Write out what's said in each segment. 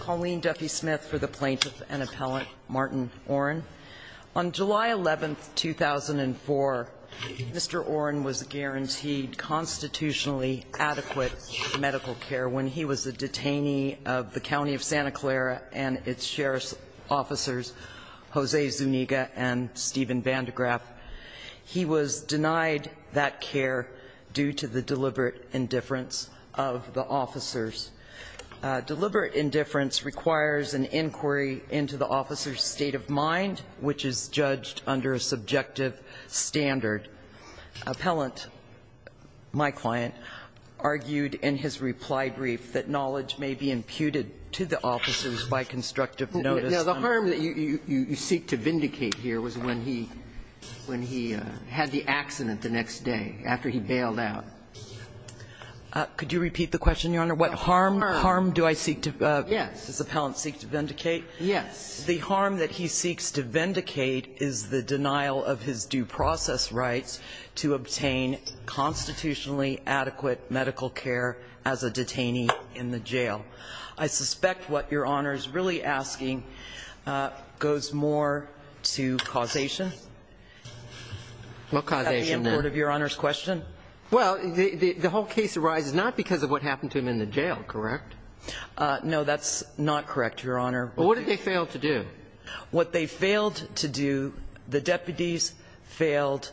Colleen Duffy Smith for the Plaintiff and Appellant, Martin Oren. On July 11, 2004, Mr. Oren was guaranteed constitutionally adequate medical care when he was a detainee of the County of Santa Clara and its sheriff's officers, Jose Zuniga and Steven Van de Graaff. He was denied that care due to the deliberate indifference of the officers. Deliberate indifference requires an inquiry into the officer's state of mind, which is judged under a subjective standard. Appellant, my client, argued in his reply brief that knowledge may be imputed to the officers by constructive notice. The harm that you seek to vindicate here was when he had the accident the next day, after he bailed out. Could you repeat the question, Your Honor? What harm do I seek to do? Yes. Does the appellant seek to vindicate? Yes. The harm that he seeks to vindicate is the denial of his due process rights to obtain constitutionally adequate medical care as a detainee in the jail. What causation, then? Well, the whole case arises not because of what happened to him in the jail, correct? No, that's not correct, Your Honor. Well, what did they fail to do? What they failed to do, the deputies failed,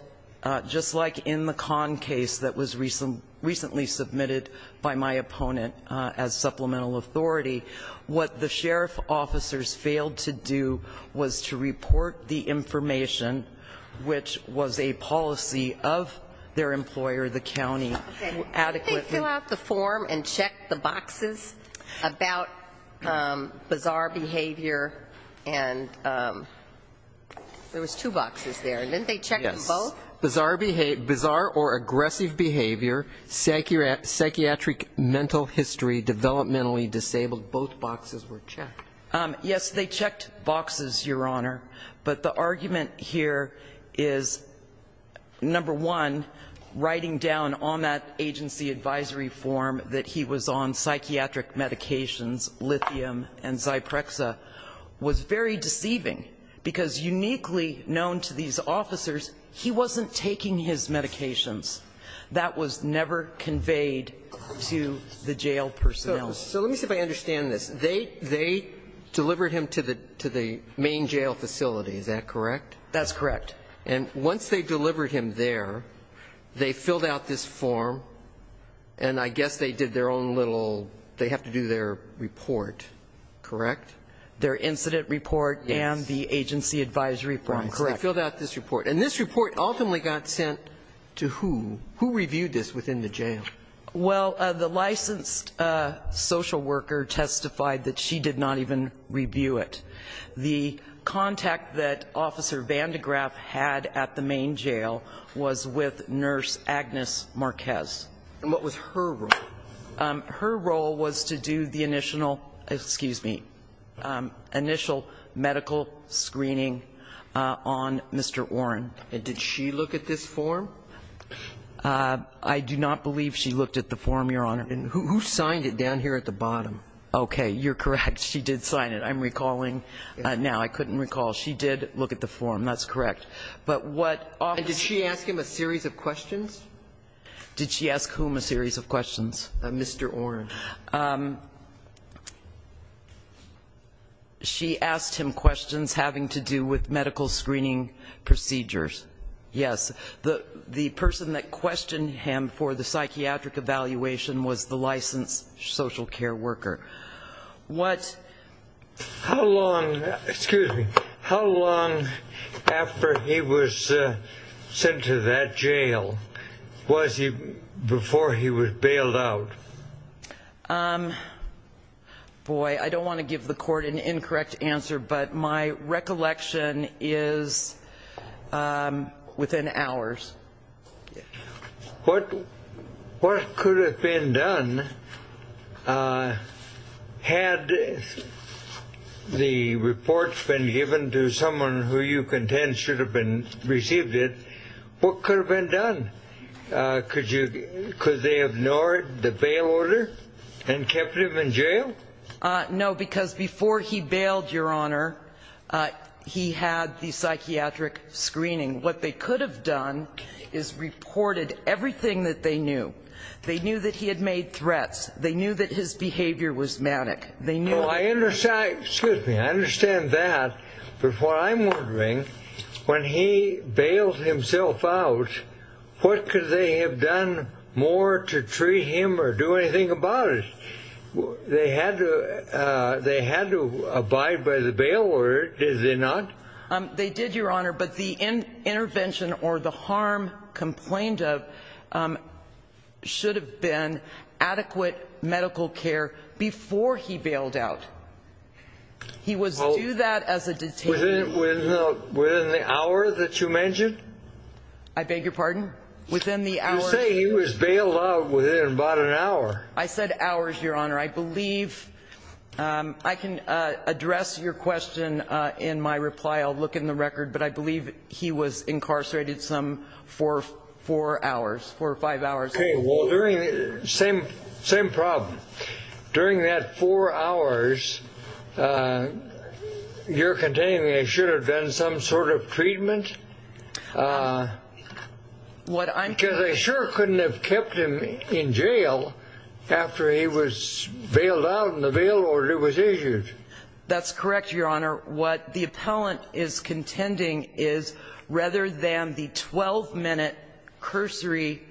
just like in the Conn case that was recently submitted by my opponent as supplemental authority. What the sheriff's officers failed to do was to report the information, which was a policy of their employer, the county, adequately. Did they fill out the form and check the boxes about bizarre behavior? And there was two boxes there. Didn't they check them both? Yes. Bizarre or aggressive behavior, psychiatric mental history, developmentally disabled, both boxes were checked. Yes, they checked boxes, Your Honor. But the argument here is, number one, writing down on that agency advisory form that he was on psychiatric medications, lithium and Zyprexa, was very deceiving, because uniquely known to these officers, he wasn't taking his medications. That was never conveyed to the jail personnel. So let me see if I understand this. They delivered him to the main jail facility, is that correct? That's correct. And once they delivered him there, they filled out this form, and I guess they did their own little, they have to do their report, correct? Their incident report and the agency advisory form, correct. So they filled out this report. And this report ultimately got sent to who? Who reviewed this within the jail? Well, the licensed social worker testified that she did not even review it. The contact that Officer Vandegraaff had at the main jail was with Nurse Agnes Marquez. And what was her role? Her role was to do the initial medical screening on Mr. Oren. Did she look at this form? I do not believe she looked at the form, Your Honor. And who signed it down here at the bottom? Okay. You're correct. She did sign it. I'm recalling now. I couldn't recall. She did look at the form. That's correct. But what officers... And did she ask him a series of questions? Did she ask whom a series of questions? Mr. Oren. She asked him questions having to do with medical screening procedures. Yes. The person that questioned him for the psychiatric evaluation was the licensed social care worker. What... How long... Excuse me. How long after he was sent to that jail was he... Before he was bailed out? Boy, I don't want to give the Court an incorrect answer, but my recollection is within hours. What could have been done had the reports been given to someone who you contend should have received it? What could have been done? Could they have ignored the bail order and kept him in jail? No, because before he bailed, Your Honor, he had the psychiatric screening. What they could have done is reported everything that they knew. They knew that he had made threats. They knew that his behavior was manic. They knew... Well, I understand... Excuse me. I understand that, but what I'm wondering, when he bailed himself out, what could they have done more to treat him or do anything about it? They had to abide by the bail order, did they not? They did, Your Honor, but the intervention or the harm complained of should have been adequate medical care before he bailed out. He was due that as a detainee. Within the hour that you mentioned? I beg your pardon? Within the hour... You say he was bailed out within about an hour. I said hours, Your Honor. I believe... I can address your question in my reply. I'll look in the record, but I believe he was incarcerated for four hours, four or five hours. Okay, well, same problem. During that four hours, you're contending they should have done some sort of treatment? Because they sure couldn't have kept him in jail after he was bailed out and the bail order was issued. That's correct, Your Honor. What the appellant is contending is, rather than the 12-minute cursory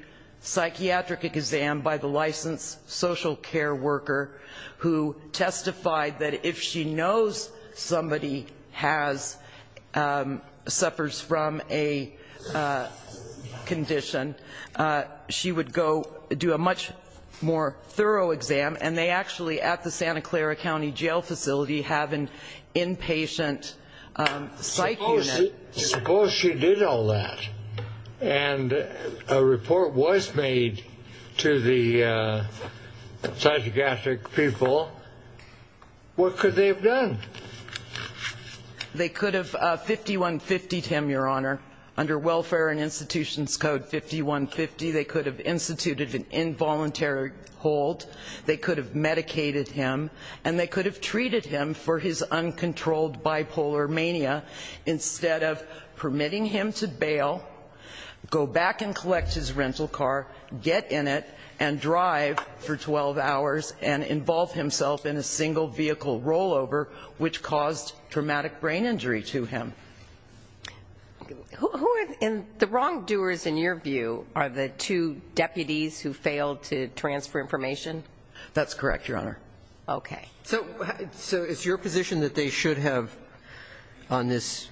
psychiatric exam by the licensed social care worker who testified that if she knows somebody suffers from a condition, she would go do a much more thorough exam and they actually at the Santa Clara County Jail Facility have an inpatient psych unit. Suppose she did all that and a report was made to the psychiatric people. What could they have done? They could have 5150'd him, Your Honor. Under Welfare and Institutions Code 5150, they could have instituted an involuntary hold, they could have medicated him, and they could have treated him for his uncontrolled bipolar mania instead of permitting him to bail, go back and collect his rental car, get in it and drive for 12 hours and involve himself in a single vehicle rollover which caused traumatic brain injury to him. The wrongdoers, in your view, are the two deputies who failed to transfer information? That's correct, Your Honor. Okay. So it's your position that they should have, on this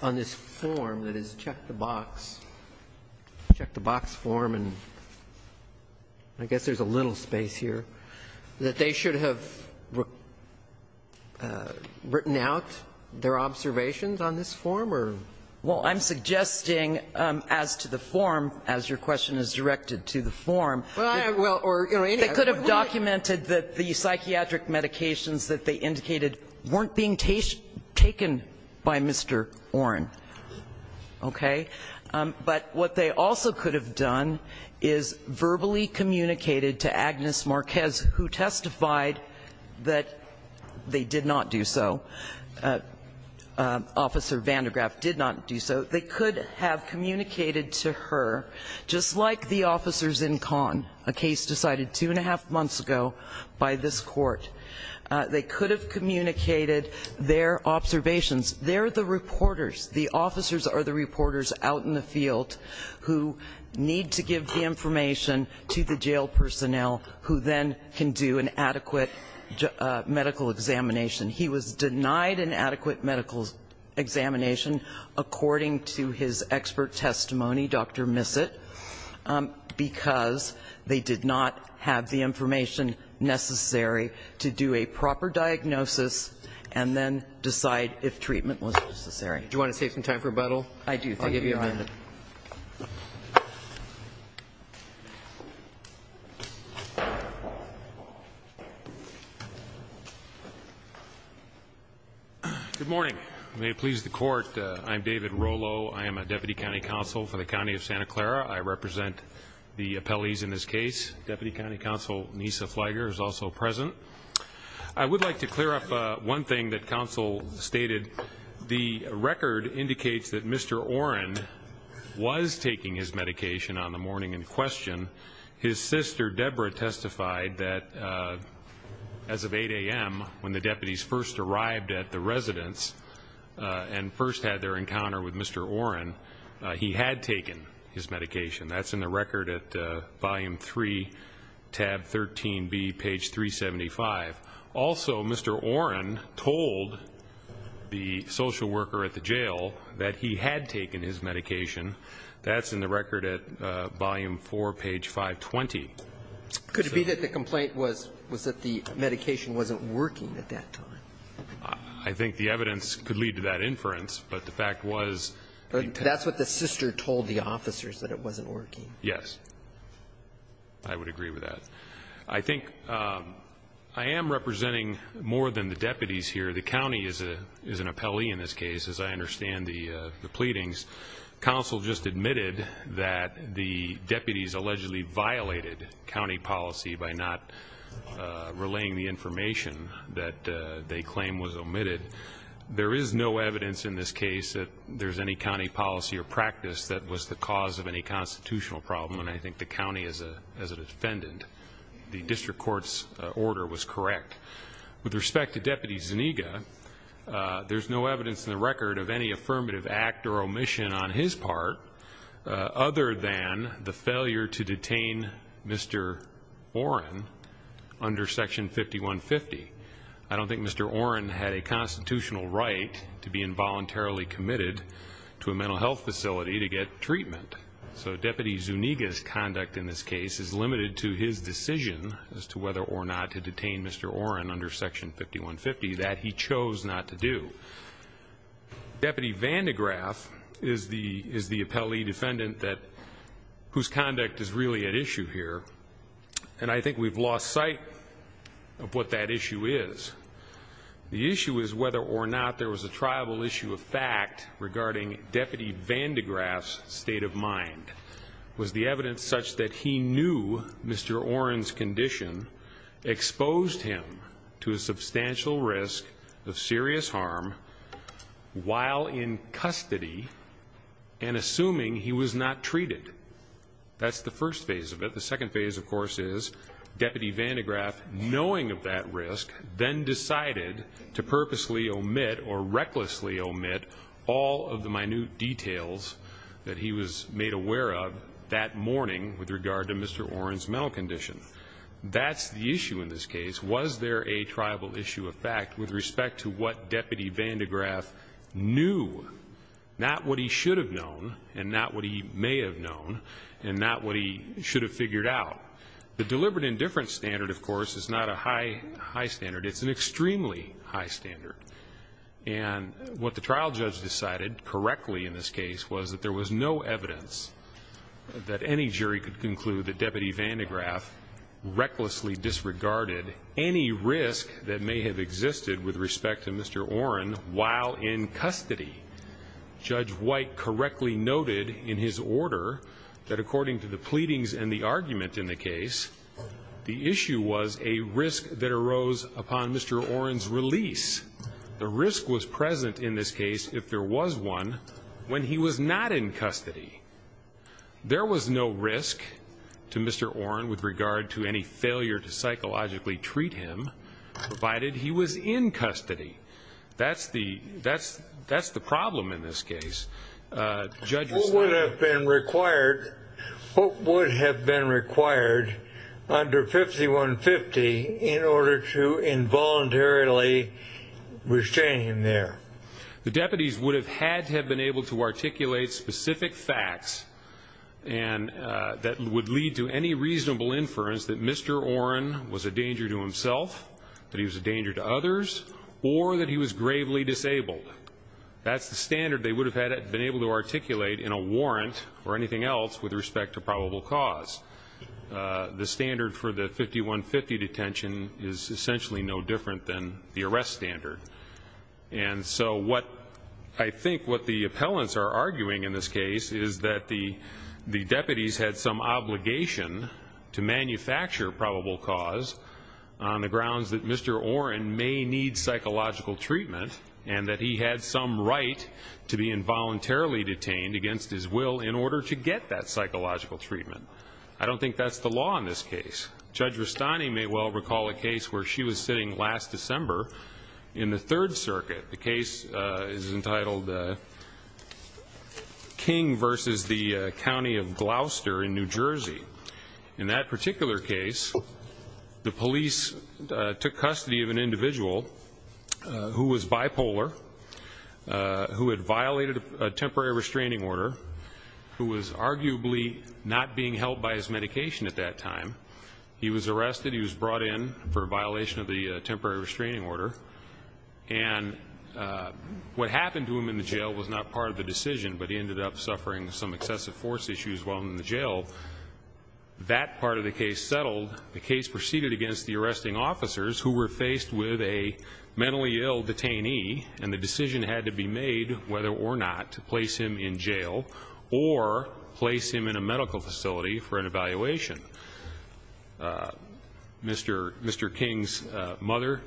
form that is check-the-box, check-the-box form, and I guess there's a little space here, that they should have written out their observations on this form? Well, I'm suggesting as to the form, as your question is directed to the form, they could have documented that the psychiatric medications that they indicated weren't being taken by Mr. Oren. Okay? But what they also could have done is verbally communicated to Agnes Marquez, who testified that they did not do so, Officer Van de Graaff did not do so, they could have communicated to her, just like the officers in Kahn, a case decided two and a half months ago by this court, they could have communicated their observations. They're the reporters, the officers are the reporters out in the field who need to give the information to the jail personnel who then can do an adequate medical examination. He was denied an adequate medical examination according to his expert testimony, Dr. Missett, because they did not have the information necessary to do a proper diagnosis and then decide if treatment was necessary. Do you want to take some time for rebuttal? I do, thank you, Your Honor. I'll give you a minute. Good morning. May it please the court, I'm David Rolo. I am a Deputy County Counsel for the County of Santa Clara. I represent the appellees in this case. Deputy County Counsel Nisa Fleiger is also present. I would like to clear up one thing that counsel stated. The record indicates that Mr. Oren was taking his medication on the morning in question. His sister, Deborah, testified that as of 8 a.m., when the deputies first arrived at the residence and first had their encounter with Mr. Oren, he had taken his medication. That's in the record at Volume 3, Tab 13b, page 375. Also, Mr. Oren told the social worker at the jail that he had taken his medication. That's in the record at Volume 4, page 520. Could it be that the complaint was that the medication wasn't working at that time? I think the evidence could lead to that inference, but the fact was... That's what the sister told the officers, that it wasn't working. Yes, I would agree with that. I think I am representing more than the deputies here. The county is an appellee in this case, as I understand the pleadings. Counsel just admitted that the deputies allegedly violated county policy by not relaying the information that they claim was omitted. There is no evidence in this case that there's any county policy or practice that was the cause of any constitutional problem, and I think the county, as a defendant, the district court's order was correct. With respect to Deputy Zuniga, there's no evidence in the record of any affirmative act or omission on his part other than the failure to detain Mr. Oren under Section 5150. I don't think Mr. Oren had a constitutional right to be involuntarily committed to a mental health facility to get treatment. So Deputy Zuniga's conduct in this case is limited to his decision as to whether or not to detain Mr. Oren under Section 5150 that he chose not to do. Deputy Vandegraaff is the appellee defendant whose conduct is really at issue here, and I think we've lost sight of what that issue is. The issue is whether or not there was a tribal issue of fact regarding Deputy Vandegraaff's state of mind. Was the evidence such that he knew Mr. Oren's condition exposed him to a substantial risk of serious harm while in custody and assuming he was not treated? That's the first phase of it. The second phase, of course, is Deputy Vandegraaff knowing of that risk, then decided to purposely omit or recklessly omit all of the minute details that he was made aware of that morning with regard to Mr. Oren's mental condition. That's the issue in this case. Was there a tribal issue of fact with respect to what Deputy Vandegraaff knew? Not what he should have known, and not what he may have known, and not what he should have figured out. The deliberate indifference standard, of course, is not a high standard. It's an extremely high standard. And what the trial judge decided correctly in this case was that there was no evidence that any jury could conclude that Deputy Vandegraaff recklessly disregarded any risk that may have existed with respect to Mr. Oren while in custody. Judge White correctly noted in his order that according to the pleadings and the argument in the case, the issue was a risk that arose upon Mr. Oren's release. The risk was present in this case, if there was one, when he was not in custody. There was no risk to Mr. Oren with regard to any failure to psychologically treat him, provided he was in custody. That's the problem in this case. What would have been required under 5150 in order to involuntarily restrain him there? The deputies would have had to have been able to articulate specific facts that would lead to any reasonable inference that Mr. Oren was a danger to himself, that he was a danger to others, or that he was gravely disabled. That's the standard they would have been able to articulate in a warrant or anything else with respect to probable cause. The standard for the 5150 detention is essentially no different than the arrest standard. And so I think what the appellants are arguing in this case is that the deputies had some obligation to manufacture probable cause on the grounds that Mr. Oren may need psychological treatment and that he had some right to be involuntarily detained against his will in order to get that psychological treatment. I don't think that's the law in this case. Judge Rustani may well recall a case where she was sitting last December in the Third Circuit. The case is entitled King v. The County of Gloucester in New Jersey. In that particular case, the police took custody of an individual who was bipolar, who had violated a temporary restraining order, who was arguably not being held by his medication at that time. He was arrested, he was brought in for a violation of the temporary restraining order, and what happened to him in the jail was not part of the decision, but he ended up suffering some excessive force issues while in the jail. That part of the case settled. The case proceeded against the arresting officers who were faced with a mentally ill detainee, whether or not to place him in jail or place him in a medical facility for an evaluation. Mr. King's stepmother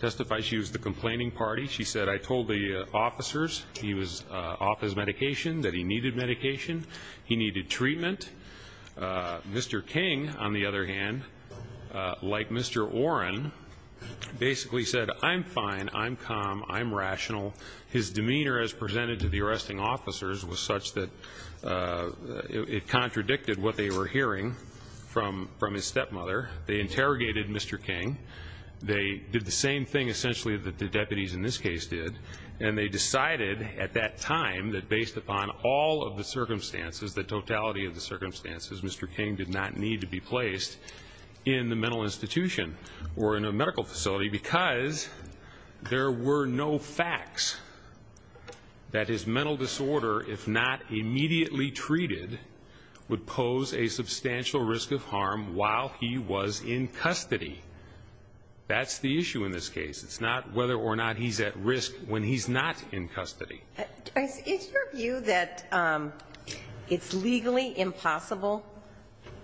testified. She was the complaining party. She said, I told the officers he was off his medication, that he needed medication, he needed treatment. Mr. King, on the other hand, like Mr. Oren, basically said, I'm fine, I'm calm, I'm rational. His demeanor as presented to the arresting officers was such that it contradicted what they were hearing from his stepmother. They interrogated Mr. King. They did the same thing, essentially, that the deputies in this case did, and they decided at that time that based upon all of the circumstances, the totality of the circumstances, Mr. King did not need to be placed in the mental institution or in a medical facility because there were no facts that his mental disorder, if not immediately treated, would pose a substantial risk of harm while he was in custody. That's the issue in this case. It's not whether or not he's at risk when he's not in custody. Is your view that it's legally impossible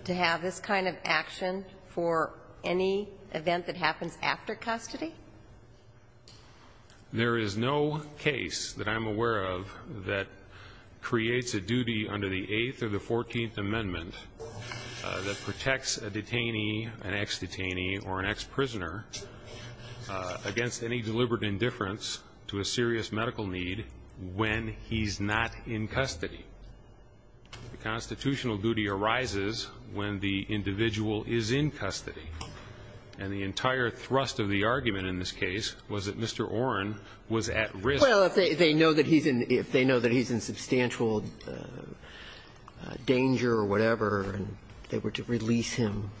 to have this kind of action for any event that happens after custody? There is no case that I'm aware of that creates a duty under the 8th or the 14th Amendment that protects a detainee, an ex-detainee or an ex-prisoner against any deliberate indifference to a serious medical need when he's not in custody. The constitutional duty arises when the individual is in custody. And the entire thrust of the argument in this case was that Mr. Oren was at risk. Well, if they know that he's in substantial danger or whatever and they were to release him.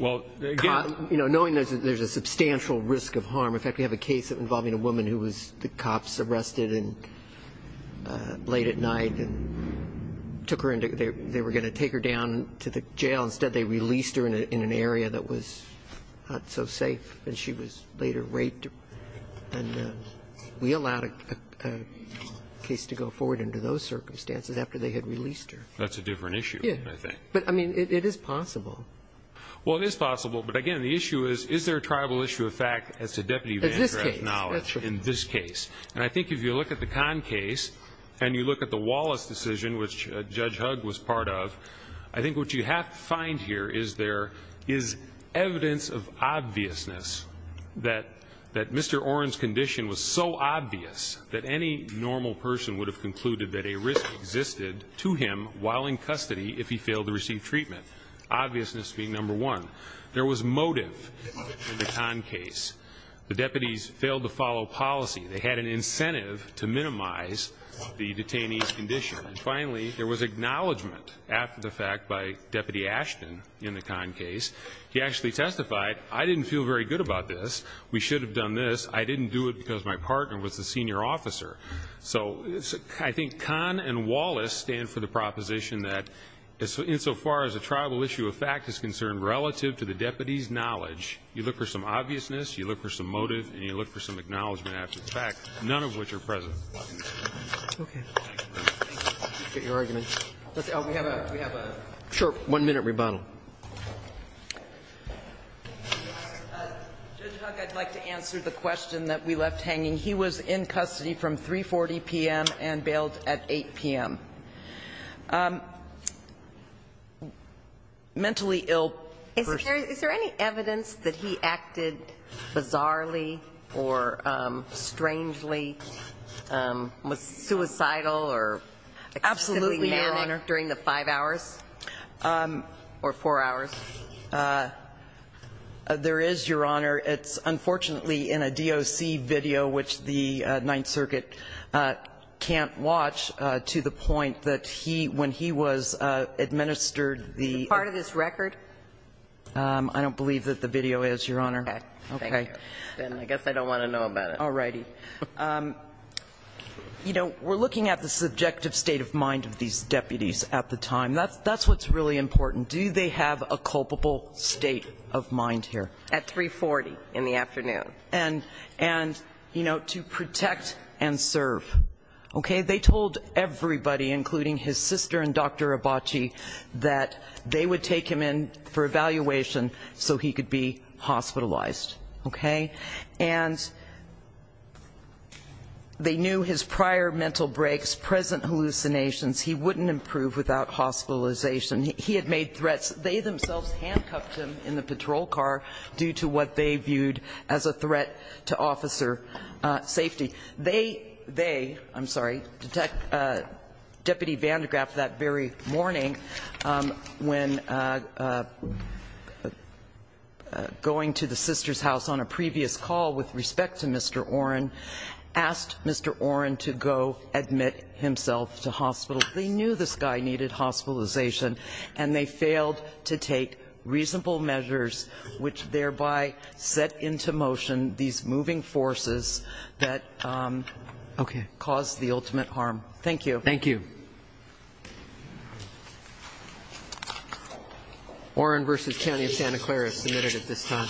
Knowing there's a substantial risk of harm. In fact, we have a case involving a woman who was arrested late at night and they were going to take her down to the jail. Instead, they released her in an area that was not so safe. She was later raped. We allowed a case to go forward under those circumstances after they had released her. That's a different issue, I think. It is possible. Well, it is possible. But again, the issue is is there a tribal issue of fact as to deputy Vandrath's knowledge in this case? And I think if you look at the Kahn case and you look at the Wallace decision, which Judge Hugg was part of I think what you have to find here is evidence of obviousness that Mr. Oren's condition was so obvious that any normal person would have concluded that a risk existed to him while in custody if he failed to receive treatment. Obviousness being number one. There was motive in the Kahn case. The deputies failed to follow policy. They had an incentive to minimize the detainee's condition. Finally, there was acknowledgement after the fact by Deputy Ashton in the Kahn case. He actually testified, I didn't feel very good about this. We should have done this. I didn't do it because my partner was the senior officer. So I think Kahn and Wallace stand for the proposition that insofar as a tribal issue of fact is concerned relative to the deputy's knowledge you look for some obviousness, you look for some motive and you look for some acknowledgement after the fact, none of which are present. Okay. We have a short one minute rebuttal. Judge Hugg, I'd like to answer the question that we left hanging. He was in custody from 3.40 p.m. and bailed at 8 p.m. Mentally ill person. Is there any evidence that he acted bizarrely or strangely? Was suicidal or during the five hours? Or four hours? There is, Your Honor. It's unfortunately in a DOC video which the Ninth Circuit can't watch to the point that when he was administered the... Is it part of his record? I don't believe that the video is, Your Honor. Then I guess I don't want to know about it. We're looking at the subjective state of mind of these deputies at the time. That's what's really important. Do they have a culpable state of mind here? At 3.40 in the afternoon. And to protect and serve. They told everybody, including his sister and Dr. Abaci that they would take him in for evaluation so he could be hospitalized. And they knew his prior mental breaks, present hallucinations he wouldn't improve without hospitalization. He had made threats. They themselves handcuffed him in the patrol car due to what they viewed as a threat to officer safety. They, I'm sorry, Deputy Van de Graaff that very morning when going to the sister's house on a previous call with respect to Mr. Oren asked Mr. Oren to go admit himself to hospital. They knew this guy needed hospitalization and they failed to take reasonable measures which thereby set into motion these moving forces that caused the ultimate harm. Thank you. Thank you. Oren v. County of Santa Clara is submitted at this time.